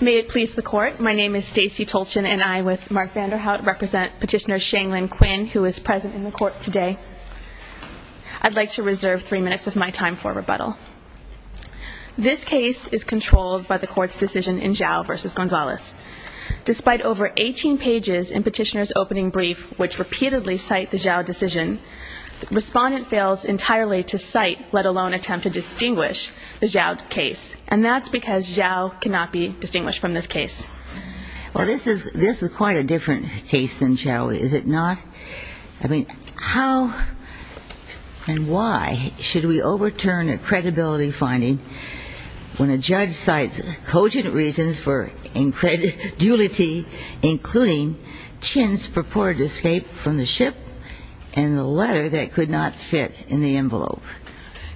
May it please the Court, my name is Stacey Tolchin and I, with Mark Vanderhout, represent Petitioner Shanglin Quinn, who is present in the Court today. I'd like to reserve three minutes of my time for rebuttal. This case is controlled by the Court's decision in quite a different case than Chau. Is it not? I mean, how and why should we overturn a overt credibility finding when a judge cites cogent reasons for dublility, including Chin's purported escape from the ship and the letter that could not fit in the envelope?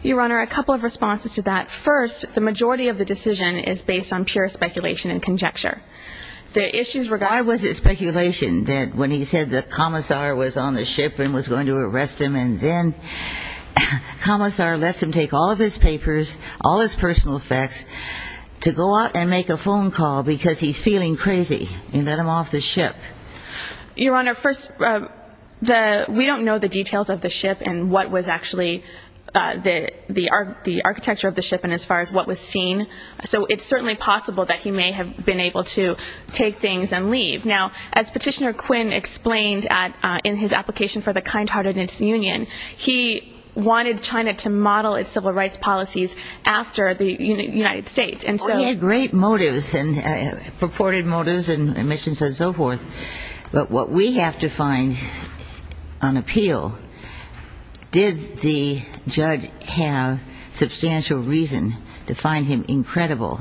Your Honor, a couple of responses to that. First, the majority of the decision is based on pure speculation and conjecture. The issues regarding Why was it speculation that when he said the commissar was on the ship and was going to arrest him and then the commissar lets him take all of his papers, all his personal facts, to go out and make a phone call because he's feeling crazy and let him off the ship? Your Honor, first, we don't know the details of the ship and what was actually the architecture of the ship and as far as what was seen. So it's certainly possible that he may have been able to take things and leave. Now, as Petitioner Quinn explained in his application for the kind-heartedness union, he wanted China to model its civil rights policies after the United States. He had great motives and purported motives and but what we have to find on appeal, did the judge have substantial reason to find him incredible?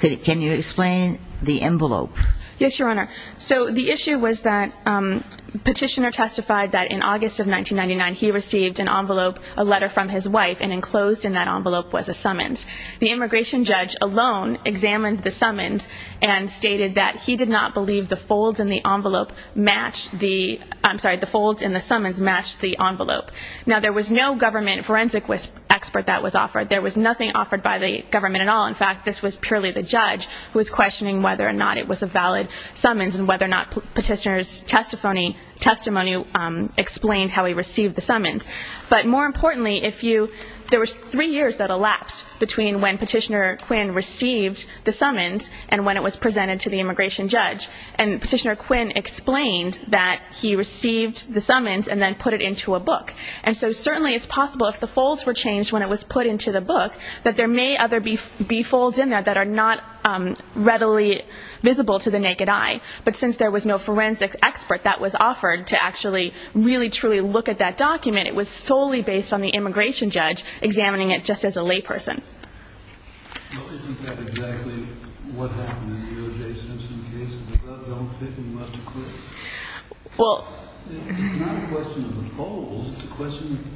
Can you explain the envelope? Yes, Your Honor. So the issue was that Petitioner testified that in August of 1999, he received an envelope, a letter from his wife and enclosed in that envelope was a summons. The immigration judge alone examined the summons and stated that he did not believe the folds in the envelope matched the, I'm sorry, the folds in the summons matched the envelope. Now, there was no government forensic expert that was offered. There was nothing offered by the government at all. In fact, this was purely the judge who was questioning whether or not it was a valid summons and whether or not Petitioner's testimony explained how he received the summons. But more importantly, if you, there was three years that elapsed between when Petitioner Quinn received the summons and when it was presented to the immigration judge. And Petitioner Quinn explained that he received the summons and then put it into a book. And so certainly it's possible if the folds were changed when it was put into the book, that there may other be folds in there that are not readily visible to the naked eye. But since there was no forensic expert that was offered to really truly look at that document, it was solely based on the immigration judge examining it just as a layperson. Well, isn't that exactly what happened in the E.O.J. Simpson case? The gloves don't fit and you must acquit. It's not a question of the folds, it's a question of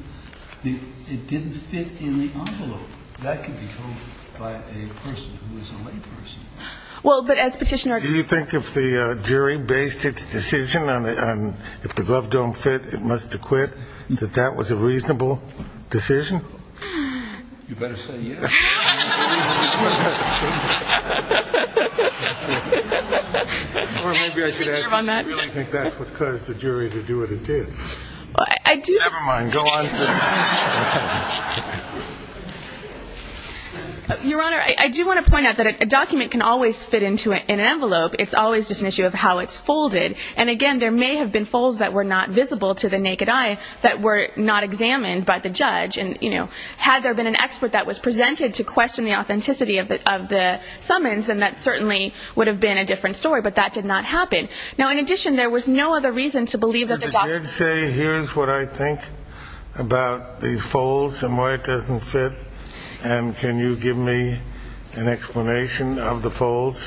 it didn't fit in the envelope. That could be told by a person who is a layperson. Well, but as Petitioner... Do you think if the jury based its decision on if the glove don't fit, it must acquit, that that was a reasonable decision? You better say yes. Or maybe I should add, I really think that's what caused the jury to do what it did. Never mind, go on. Your Honor, I do want to point out that a document can always fit into an envelope, it's always just an issue of how it's folded. And again, there may have been folds that were not visible to the naked eye that were not examined by the judge. And, you know, had there been an expert that was presented to question the authenticity of the summons, then that certainly would have been a different story, but that did not happen. Now, in addition, there was no other reason to believe that... Here's what I think about these folds and why it doesn't fit. And can you give me an explanation of the folds?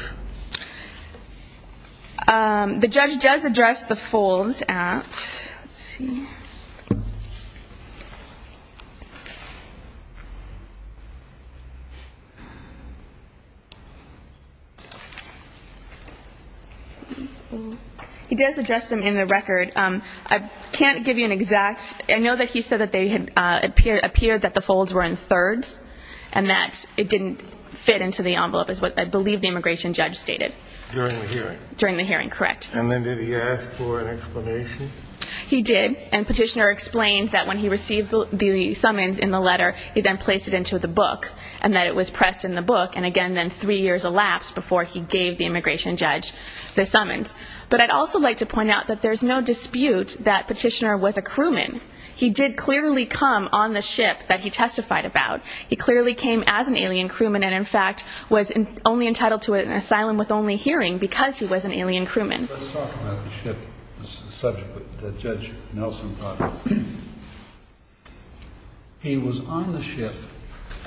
The judge does address the folds at... Can't give you an exact... I know that he said that they had appeared that the folds were in thirds and that it didn't fit into the envelope, is what I believe the immigration judge stated. During the hearing. During the hearing, correct. And then did he ask for an explanation? He did, and Petitioner explained that when he received the summons in the letter, he then placed it into the book and that it was pressed in the book. And again, then three years elapsed before he gave the immigration judge the summons. But I'd also like to point out that there's no dispute that Petitioner was a crewman. He did clearly come on the ship that he testified about. He clearly came as an alien crewman and in fact was only entitled to an asylum with only hearing because he was an alien crewman. Let's talk about the ship, the subject that Judge Nelson brought up. He was on the ship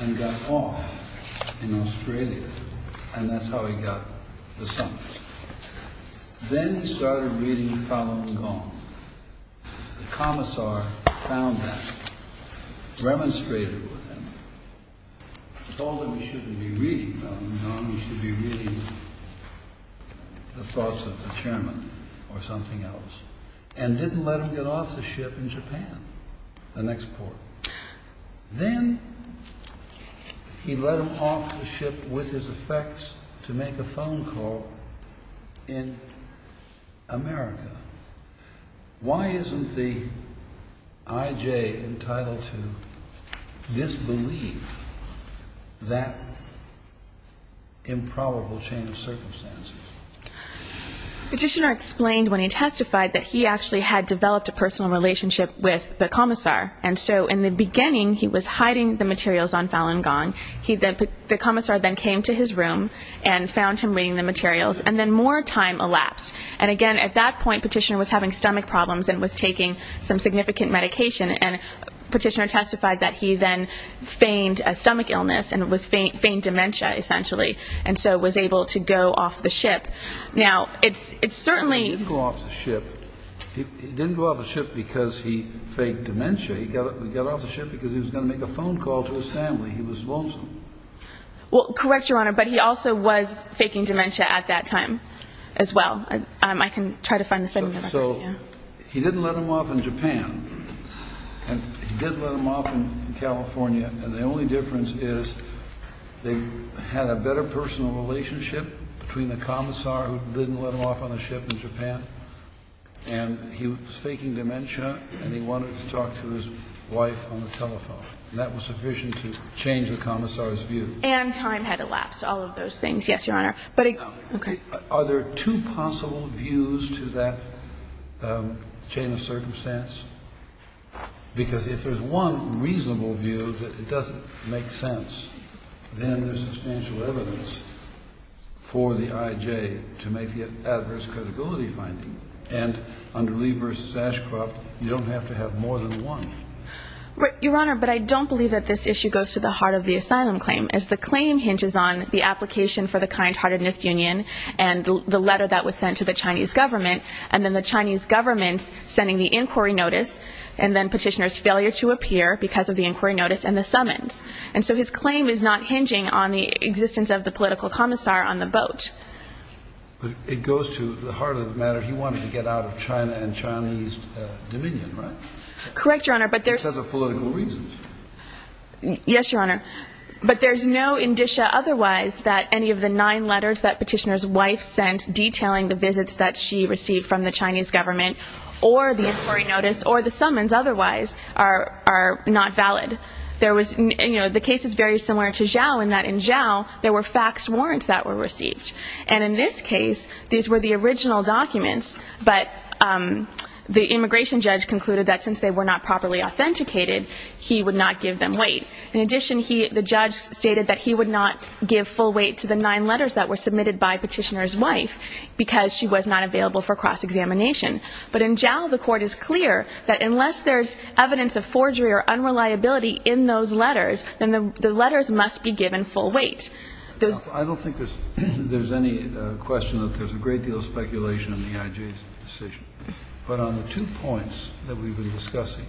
and got off in Australia and that's how he got the summons. Then he started reading Falun Gong. The commissar found that, remonstrated with him, told him he shouldn't be reading Falun Gong, he should be reading the thoughts of the chairman or something else, and didn't let him get off the ship in Japan, the next port. Then he let him off the ship with his effects to make a phone call in America. Why isn't the IJ entitled to disbelieve that improbable chain of circumstances? Petitioner explained when he testified that he actually had developed a personal relationship with the commissar. And so in the beginning, he was hiding the materials on Falun Gong. The commissar then came to his room and found him reading the materials. And then more time elapsed. And again, at that point, Petitioner was having stomach problems and was taking some significant medication. And Petitioner testified that he then feigned a stomach illness and feigned dementia, essentially, and so was able to go off the ship. Now, it's certainly... He didn't go off the ship because he feigned dementia. He got off the ship because he was going to make a phone call to his family. He was lonesome. Well, correct, Your Honor. But he also was faking dementia at that time as well. I can try to find the... So he didn't let him off in Japan and he didn't let him off in California. And the only difference is they had a better personal relationship between the commissar who didn't let him off on a ship in Japan. And he was faking dementia and he wanted to talk to his wife on the telephone. And that was sufficient to change the commissar's view. And time had elapsed, all of those things. Yes, Your Honor. But... Okay. Are there two possible views to that chain of circumstance? Because if there's one reasonable view that it doesn't make sense, then there's substantial evidence for the I.J. to make the adverse credibility finding. And under Lee v. Ashcroft, you don't have to have more than one. Your Honor, but I don't believe that this issue goes to the heart of the asylum claim, as the claim hinges on the application for the kind-heartedness union and the letter that was sent to the Chinese government, and then the Chinese government sending the inquiry notice, and then petitioner's failure to appear because of the inquiry notice and the summons. And so his claim is not hinging on the existence of the political commissar on the boat. But it goes to the heart of the matter. He wanted to get out of China and Chinese dominion, right? Correct, Your Honor, but there's... Because of political reasons. Yes, Your Honor. But there's no indicia otherwise that any of the nine letters that petitioner's wife sent detailing the visits that she received from the Chinese government or the inquiry notice or the summons otherwise are not valid. The case is very similar to Zhao in that in Zhao, there were faxed warrants that were received. And in this case, these were the original documents, but the immigration judge concluded that since they were not properly authenticated, he would not give them weight. In addition, the judge stated that he would not give full weight to the nine letters that were submitted by petitioner's wife because she was not available for cross-examination. But in Zhao, the court is clear that unless there's evidence of forgery or unreliability in those letters, then the letters must be given full weight. I don't think there's any question that there's a great deal of speculation in the I.J.'s decision. But on the two points that we've been discussing,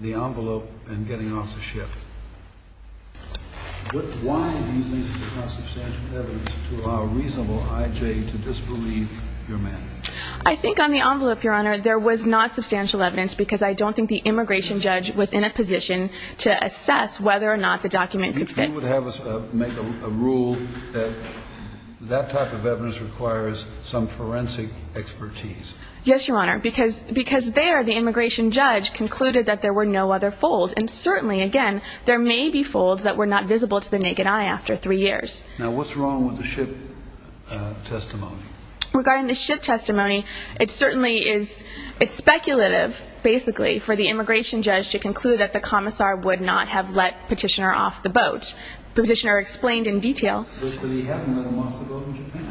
the envelope and getting off the ship, why do you think there's not substantial evidence to allow reasonable I.J. to disbelieve your man? I think on the envelope, Your Honor, there was not substantial evidence because I don't think the immigration judge was in a position to assess whether or not the document could fit. You would have us make a rule that that type of evidence requires some forensic expertise. Yes, Your Honor, because there, the immigration judge concluded that there were no other folds. And certainly, again, there may be folds that were not visible to the naked eye after three years. Now, what's wrong with the ship testimony? Regarding the ship testimony, it certainly is speculative, basically, for the immigration judge to conclude that the commissar would not have let Petitioner off the boat. Petitioner explained in detail. But he had let him off the boat in Japan.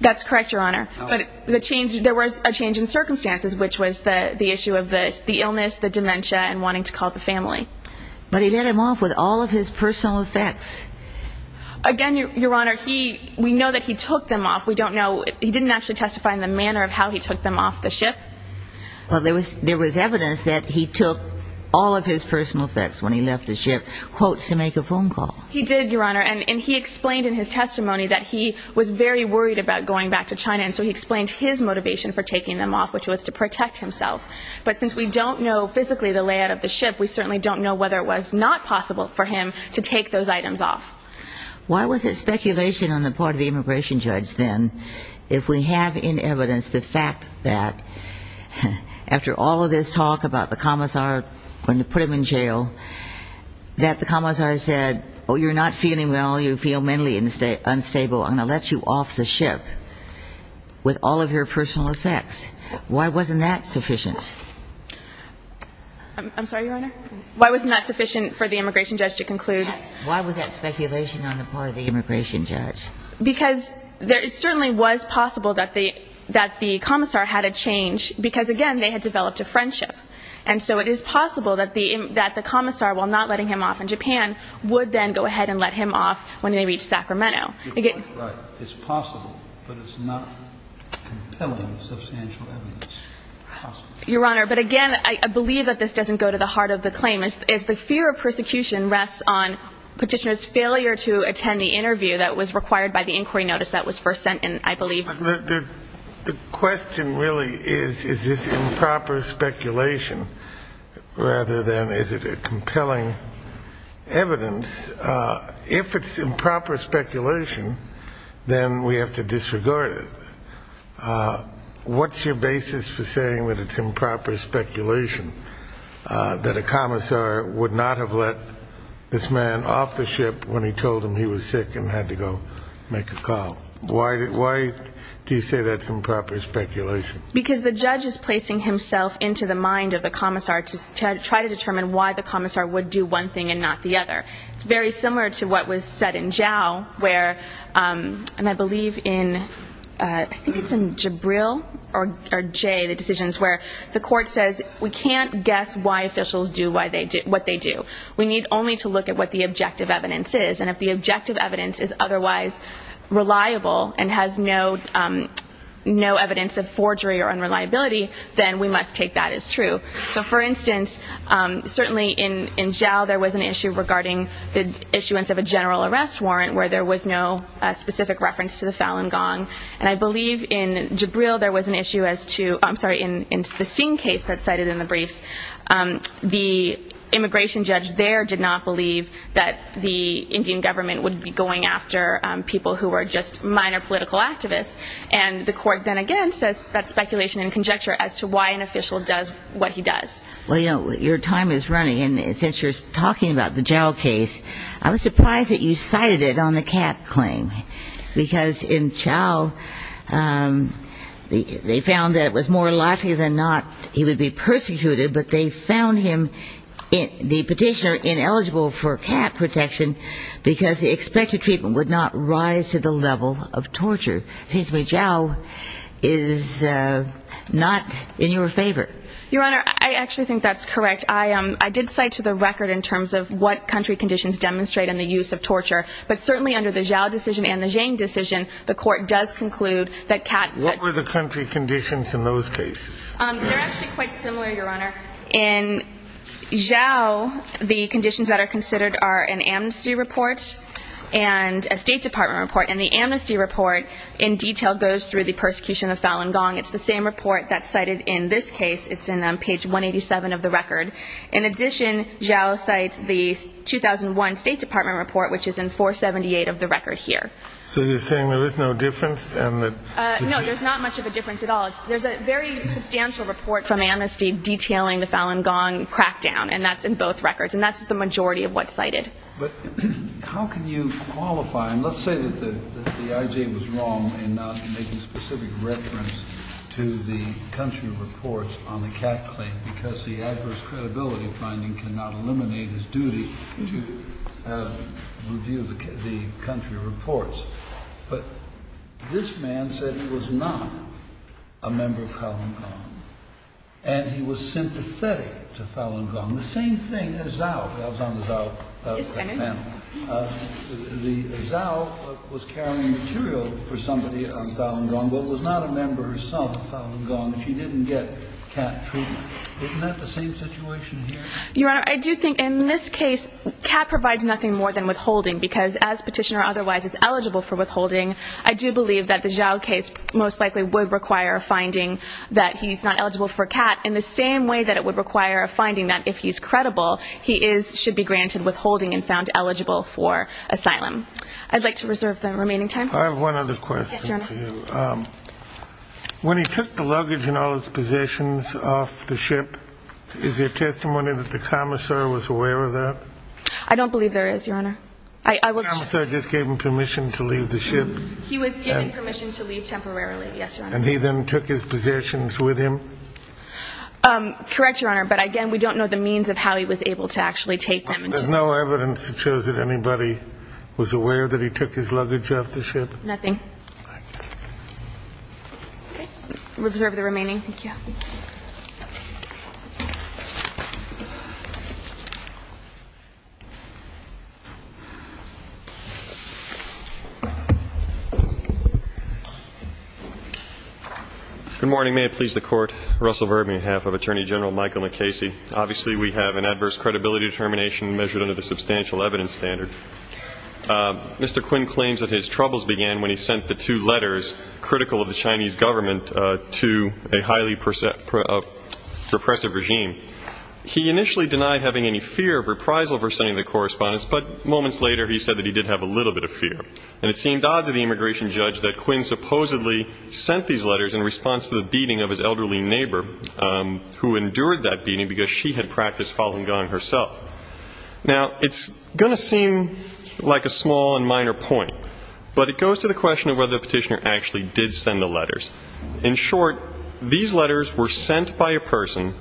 That's correct, Your Honor. But the change, there was a change in circumstances, which was the issue of the illness, the dementia, and wanting to call the family. But he let him off with all of his personal effects. Again, Your Honor, he, we know that he took them off. We don't know, he didn't actually testify in the manner of how he took them off the ship. Well, there was evidence that he took all of his personal effects when he left the ship, quotes, to make a phone call. He did, Your Honor. And he explained in his testimony that he was very worried about going back to China. And so he explained his motivation for taking them off, which was to protect himself. But since we don't know physically the layout of the ship, we certainly don't know whether it was not possible for him to take those items off. Why was it speculation on the part of the immigration judge, then, if we have in evidence the fact that, after all of this talk about the commissar going to put him in jail, that the commissar said, oh, you're not feeling well, you feel mentally unstable, I'm going to let you off the ship with all of your personal effects? Why wasn't that sufficient? I'm sorry, Your Honor? Why wasn't that sufficient for the immigration judge to conclude? Why was that speculation on the part of the immigration judge? Because it certainly was possible that the commissar had a change because, again, they had developed a friendship. And so it is possible that the commissar, while not letting him off in Japan, would then go ahead and let him off when they reach Sacramento. Your point is right. It's possible, but it's not compelling, substantial evidence. Your Honor, but again, I believe that this doesn't go to the heart of the claim. It's the fear of persecution rests on Petitioner's failure to attend the interview that was required by the inquiry notice that was first sent in, I believe. The question really is, is this improper speculation rather than is it a compelling evidence? If it's improper speculation, then we have to disregard it. What's your basis for saying that it's improper speculation, that a commissar would not have let this man off the ship when he told him he was sick and had to go make a call? Why do you say that's improper speculation? Because the judge is placing himself into the mind of the commissar to try to determine why the commissar would do one thing and not the other. It's very similar to what was said in Zhao where, and I believe in, I think it's in Jibril or Jay, the decisions where the court says we can't guess why officials do what they do. We need only to look at what the objective evidence is. And if the objective evidence is otherwise reliable and has no evidence of forgery or unreliability, then we must take that as true. So, for instance, certainly in Zhao, there was an issue regarding the issuance of a general arrest warrant where there was no specific reference to the Falun Gong. And I believe in Jibril there was an issue as to, I'm sorry, in the Singh case that's cited in the briefs, the immigration judge there did not believe that the Indian government would be going after people who were just minor political activists. And the court then again says that's speculation and conjecture as to why an official does what he does. Well, you know, your time is running. And since you're talking about the Zhao case, I was surprised that you cited it on the Kat claim. Because in Zhao, um, they found that it was more likely than not he would be persecuted, but they found him, the petitioner, ineligible for Kat protection because the expected treatment would not rise to the level of torture. It seems to me Zhao is not in your favor. Your Honor, I actually think that's correct. I did cite to the record in terms of what country conditions demonstrate in the use of torture. But certainly under the Zhao decision and the Zhang decision, the court does conclude that Kat... What were the country conditions in those cases? They're actually quite similar, Your Honor. In Zhao, the conditions that are considered are an amnesty report and a state department report. And the amnesty report in detail goes through the persecution of Falun Gong. It's the same report that's cited in this case. It's in page 187 of the record. In addition, Zhao cites the 2001 state department report, which is in 478 of the record here. So you're saying there is no difference? No, there's not much of a difference at all. There's a very substantial report from amnesty detailing the Falun Gong crackdown, and that's in both records. And that's the majority of what's cited. But how can you qualify? And let's say that the IJ was wrong in not making specific reference to the country reports on the Kat claim because the adverse credibility finding cannot eliminate his duty to review the country reports. But this man said he was not a member of Falun Gong, and he was sympathetic to Falun Gong. The same thing as Zhao. I was on the Zhao panel. The Zhao was carrying material for somebody on Falun Gong, but was not a member herself of Falun Gong, and she didn't get Kat treatment. Isn't that the same situation here? Your Honor, I do think in this case, Kat provides nothing more than withholding because as petitioner otherwise is eligible for withholding, I do believe that the Zhao case most likely would require a finding that he's not eligible for Kat in the same way that it would require a finding that if he's credible, he should be granted withholding and found eligible for asylum. I'd like to reserve the remaining time. I have one other question for you. When he took the luggage and all his possessions off the ship, is there testimony that the commissar was aware of that? I don't believe there is, Your Honor. The commissar just gave him permission to leave the ship? He was given permission to leave temporarily, yes, Your Honor. And he then took his possessions with him? Correct, Your Honor, but again, we don't know the means of how he was able to actually take them. There's no evidence that shows that anybody was aware that he took his luggage off the ship? Nothing. Okay, we'll reserve the remaining. Thank you. Good morning. May it please the Court. Russell Verbe, on behalf of Attorney General Michael McCasey. Obviously, we have an adverse credibility determination measured under the substantial evidence standard. Mr. Quinn claims that his troubles began when he sent the two letters, critical of the Chinese government, to a highly repressive regime. He initially denied having any fear of reprisal for sending the correspondence, but moments later, he said that he did have a little bit of fear. And it seemed odd to the immigration judge that Quinn supposedly sent these letters in response to the beating of his elderly neighbor, who endured that beating because she had practiced Falun Gong herself. Now, it's going to seem like a small and minor point, but it goes to the question of whether the petitioner actually did send the letters. In short, these letters were sent by a person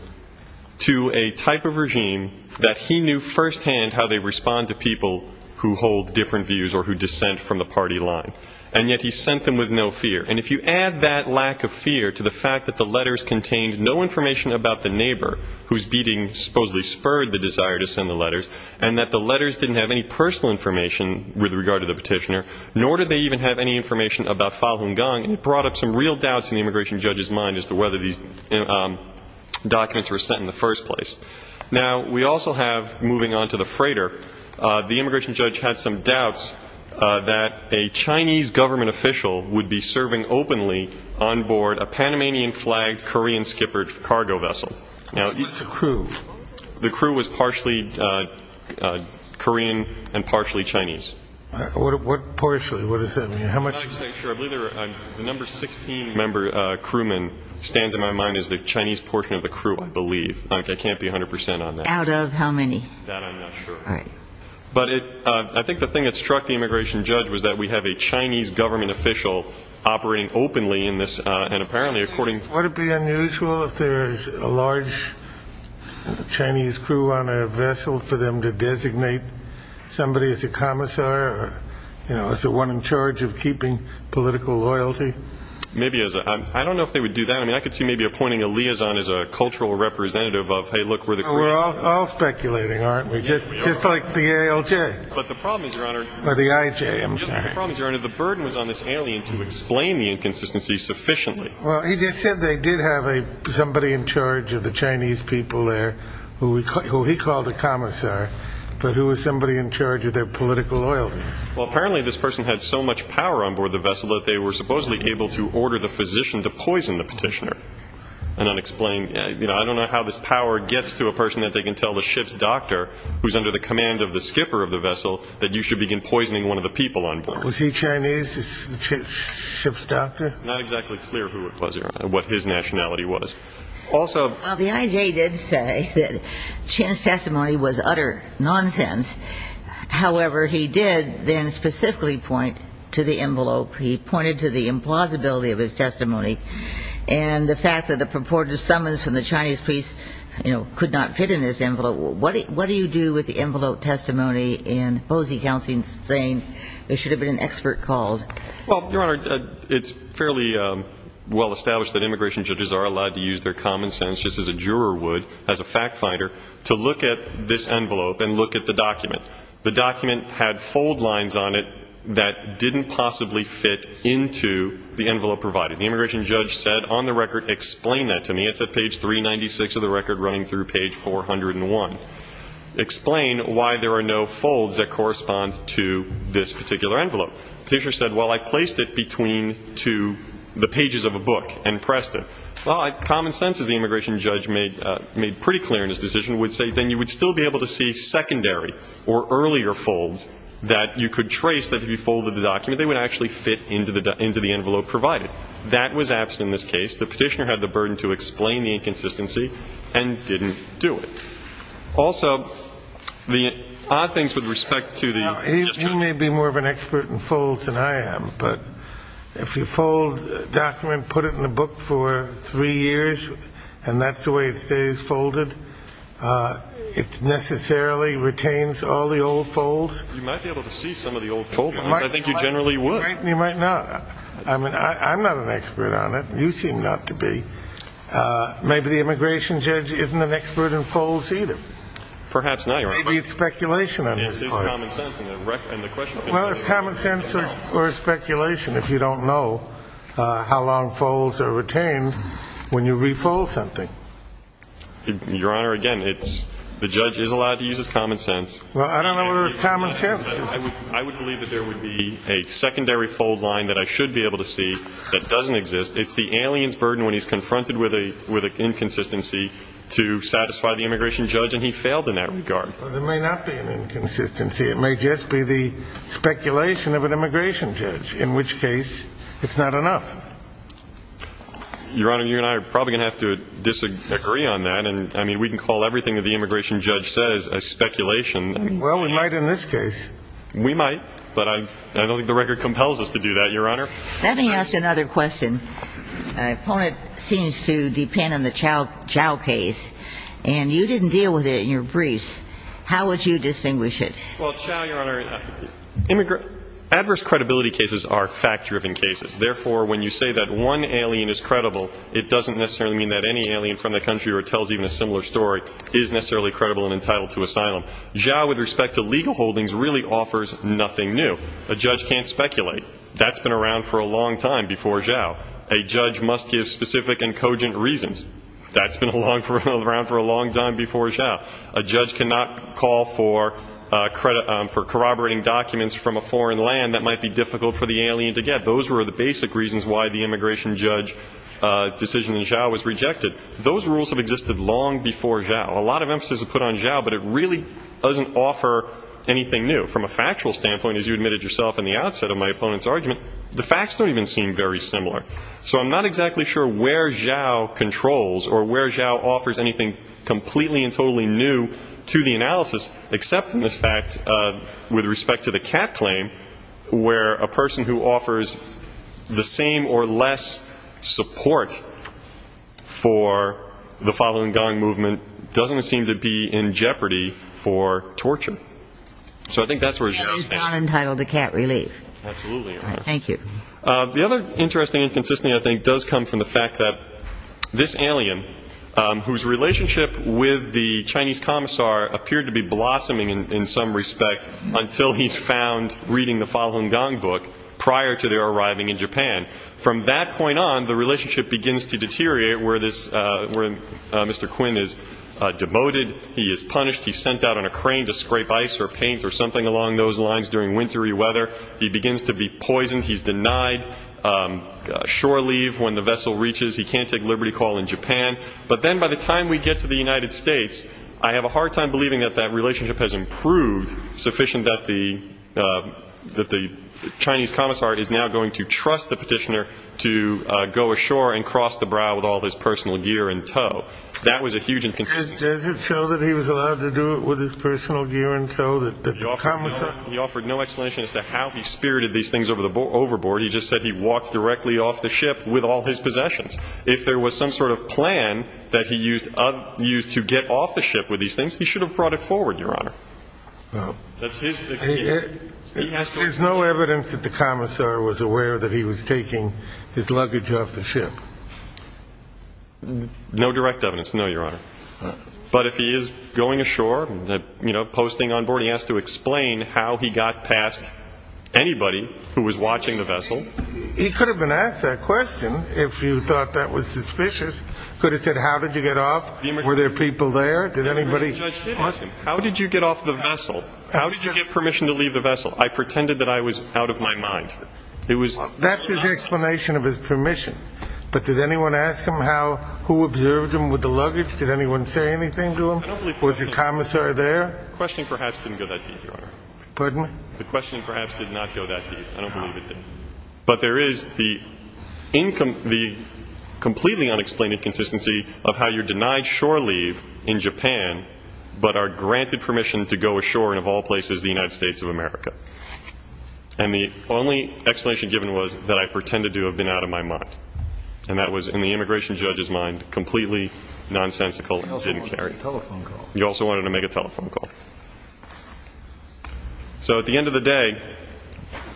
to a type of regime that he knew firsthand how they respond to people who hold different views or who dissent from the party line. And yet he sent them with no fear. And if you add that lack of fear to the fact that the letters contained no information about the neighbor whose beating supposedly spurred the desire to send the letters, and that the letters didn't have any personal information with regard to the petitioner, nor did they even have any information about Falun Gong, it brought up some real doubts in the immigration judge's mind as to whether these documents were sent in the first place. Now, we also have, moving on to the freighter, the immigration judge had some doubts that a Chinese government official would be serving openly on board a Panamanian-flagged Korean skipper cargo vessel. What was the crew? The crew was partially Korean and partially Chinese. What partially? What is that? The number 16 crewman stands in my mind as the Chinese portion of the crew, I believe. I can't be 100% on that. Out of how many? That I'm not sure. But I think the thing that struck the immigration judge was that we have a Chinese government official operating openly in this, and apparently, according... Would it be unusual if there is a large Chinese crew on a vessel for them to designate somebody as a commissar, or, you know, as the one in charge of keeping political loyalty? Maybe as a... I don't know if they would do that. I mean, I could see maybe appointing a liaison as a cultural representative of, hey, look, we're the Korean... We're all speculating, aren't we? Yes, we are. Just like the ALJ. But the problem is, Your Honor... Or the IJ, I'm sorry. The burden was on this alien to explain the inconsistency sufficiently. Well, he said they did have somebody in charge of the Chinese people there, who he called a commissar. But who was somebody in charge of their political loyalties? Well, apparently, this person had so much power on board the vessel that they were supposedly able to order the physician to poison the petitioner. An unexplained... I don't know how this power gets to a person that they can tell the ship's doctor, who's under the command of the skipper of the vessel, that you should begin poisoning one of the people on board. Was he Chinese? The ship's doctor? It's not exactly clear who it was, Your Honor, what his nationality was. Also... Well, the IJ did say that Chen's testimony was utter nonsense. However, he did then specifically point to the envelope. He pointed to the implausibility of his testimony. And the fact that a purported summons from the Chinese police, you know, could not fit in this envelope. What do you do with the envelope testimony and posy counseling saying there should have been an expert called? Well, Your Honor, it's fairly well established that immigration judges are allowed to use their common sense, just as a juror would as a fact finder, to look at this envelope and look at the document. The document had fold lines on it that didn't possibly fit into the envelope provided. The immigration judge said on the record, explain that to me. It's at page 396 of the record, running through page 401. Explain why there are no folds that correspond to this particular envelope. Petitioner said, well, I placed it between to the pages of a book and pressed it. Well, common sense, as the immigration judge made pretty clear in his decision, would say then you would still be able to see secondary or earlier folds that you could trace that if you folded the document, they would actually fit into the envelope provided. That was absent in this case. The petitioner had the burden to explain the inconsistency and didn't do it. Also, the odd things with respect to the... Now, you may be more of an expert in folds than I am, but if you fold a document, put it in a book for three years and that's the way it stays folded, it necessarily retains all the old folds. You might be able to see some of the old fold lines. I think you generally would. You might not. I mean, I'm not an expert on it. You seem not to be. Maybe the immigration judge isn't an expert in folds either. Perhaps not. Maybe it's speculation. It is common sense. Well, it's common sense or speculation if you don't know how long folds are retained when you refold something. Your Honor, again, the judge is allowed to use his common sense. Well, I don't know where his common sense is. I would believe that there would be a secondary fold line that I should be able to see that doesn't exist. It's the alien's burden when he's confronted with an inconsistency to satisfy the immigration judge, and he failed in that regard. There may not be an inconsistency. It may just be the speculation of an immigration judge, in which case it's not enough. Your Honor, you and I are probably going to have to disagree on that. And I mean, we can call everything that the immigration judge says a speculation. Well, we might in this case. We might, but I don't think the record compels us to do that, Your Honor. Let me ask another question. My opponent seems to depend on the Chao case, and you didn't deal with it in your briefs. How would you distinguish it? Well, Chao, Your Honor, adverse credibility cases are fact-driven cases. Therefore, when you say that one alien is credible, it doesn't necessarily mean that any alien from the country or tells even a similar story is necessarily credible and entitled to asylum. Chao, with respect to legal holdings, really offers nothing new. A judge can't speculate. That's been around for a long time before Chao. A judge must give specific and cogent reasons. That's been around for a long time before Chao. A judge cannot call for corroborating documents from a foreign land that might be difficult for the alien to get. Those were the basic reasons why the immigration judge decision in Chao was rejected. Those rules have existed long before Chao. A lot of emphasis is put on Chao, but it really doesn't offer anything new. From a factual standpoint, as you admitted yourself in the outset of my opponent's argument, the facts don't even seem very similar. So I'm not exactly sure where Chao controls or where Chao offers anything completely and totally new to the analysis, except in this fact with respect to the cat claim, where a person who offers the same or less support for the following gang movement doesn't seem to be in jeopardy for torture. So I think that's where... The cat is not entitled to cat relief. Absolutely. All right, thank you. The other interesting inconsistency I think does come from the fact that this alien, whose relationship with the Chinese commissar appeared to be blossoming in some respect until he's found reading the following gang book prior to their arriving in Japan. From that point on, the relationship begins to deteriorate where Mr. Quinn is demoted, he is punished, he's sent out on a crane to scrape ice or paint or something along those lines during wintry weather, he begins to be poisoned, he's denied shore leave when the vessel reaches, he can't take liberty call in Japan. But then by the time we get to the United States, I have a hard time believing that that relationship has improved sufficient that the Chinese commissar is now going to trust the petitioner to go ashore and cross the brow with all his personal gear in tow. That was a huge inconsistency. Does it show that he was allowed to do it with his personal gear in tow? He offered no explanation as to how he spirited these things over the overboard. He just said he walked directly off the ship with all his possessions. If there was some sort of plan that he used to get off the ship with these things, he should have brought it forward, Your Honor. There's no evidence that the commissar was aware that he was taking his luggage off the ship. No direct evidence, no, Your Honor. But if he is going ashore, you know, posting on board, he has to explain how he got past anybody who was watching the vessel. He could have been asked that question if you thought that was suspicious. Could have said, how did you get off? Were there people there? Did anybody ask him? How did you get off the vessel? How did you get permission to leave the vessel? I pretended that I was out of my mind. But did anyone ask him who observed him with the luggage? Did anyone say anything to him? Was the commissar there? The question perhaps didn't go that deep, Your Honor. Pardon? The question perhaps did not go that deep. I don't believe it did. But there is the completely unexplained inconsistency of how you're denied shore leave in Japan, but are granted permission to go ashore in, of all places, the United States of America. And the only explanation given was that I pretended to have been out of my mind. And that was, in the immigration judge's mind, completely nonsensical and didn't carry. I also wanted to make a telephone call. You also wanted to make a telephone call. So at the end of the day,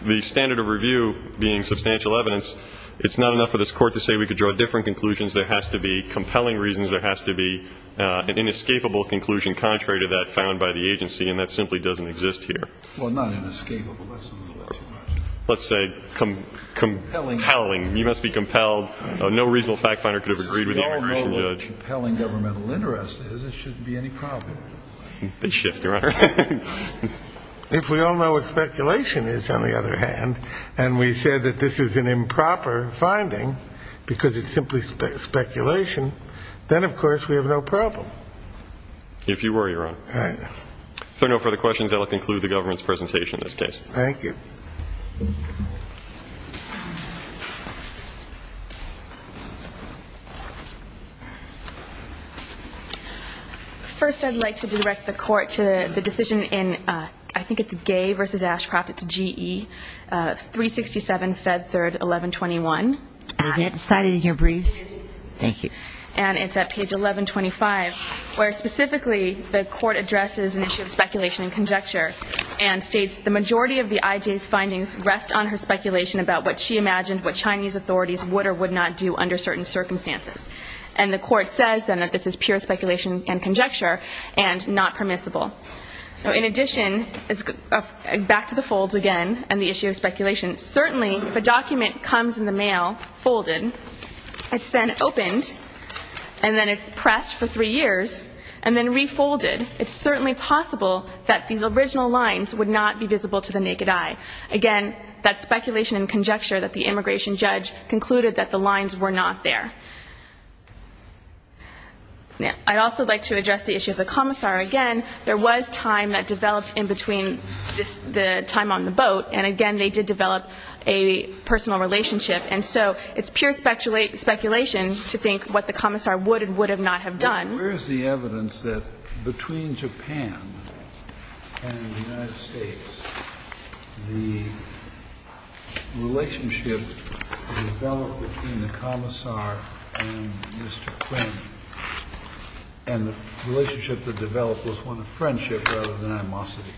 the standard of review being substantial evidence, it's not enough for this court to say we could draw different conclusions. There has to be compelling reasons. There has to be an inescapable conclusion contrary to that found by the agency. And that simply doesn't exist here. Well, not inescapable. That's a little too much. Let's say compelling. You must be compelled. No reasonable fact finder could have agreed with the immigration judge. As compelling governmental interest is, it shouldn't be any problem. They shift, Your Honor. If we all know what speculation is, on the other hand, and we said that this is an improper finding because it's simply speculation, then, of course, we have no problem. If you were, Your Honor. All right. If there are no further questions, I'll conclude the government's presentation in this case. Thank you. First, I'd like to direct the court to the decision in, I think it's Gay v. Ashcroft, it's GE, 367 Fed 3rd, 1121. Is that cited in your briefs? Thank you. And it's at page 1125, where specifically the court addresses an issue of speculation and conjecture and states the majority of the IJ's findings rest on her speculation about what she imagined what Chinese authorities would or would not do under certain circumstances. And the court says, then, that this is pure speculation and conjecture and not permissible. Now, in addition, back to the folds again and the issue of speculation. Certainly, if a document comes in the mail folded, it's then opened and then it's pressed for three years and then refolded, it's certainly possible that these original lines would not be visible to the naked eye. Again, that speculation and conjecture that the immigration judge concluded that the lines were not there. I'd also like to address the issue of the commissar. Again, there was time that developed in between the time on the boat. And again, they did develop a personal relationship. And so it's pure speculation to think what the commissar would and would not have done. Where's the evidence that between Japan and the United States, the relationship developed between the commissar and Mr. Quinn and the relationship that developed was one of friendship rather than animosity?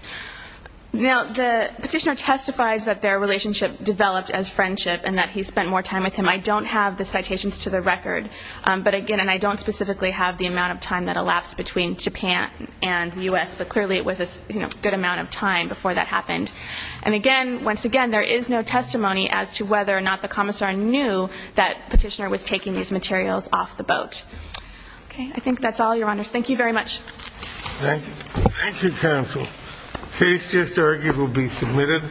Now, the petitioner testifies that their relationship developed as friendship and that he spent more time with him. I don't have the citations to the record. But again, and I don't specifically have the amount of time that elapsed between Japan and the U.S., but clearly it was a good amount of time before that happened. And again, once again, there is no testimony as to whether or not the commissar knew that petitioner was taking these materials off the boat. Okay, I think that's all, Your Honors. Thank you very much. Thank you, counsel. Case just argued will be submitted.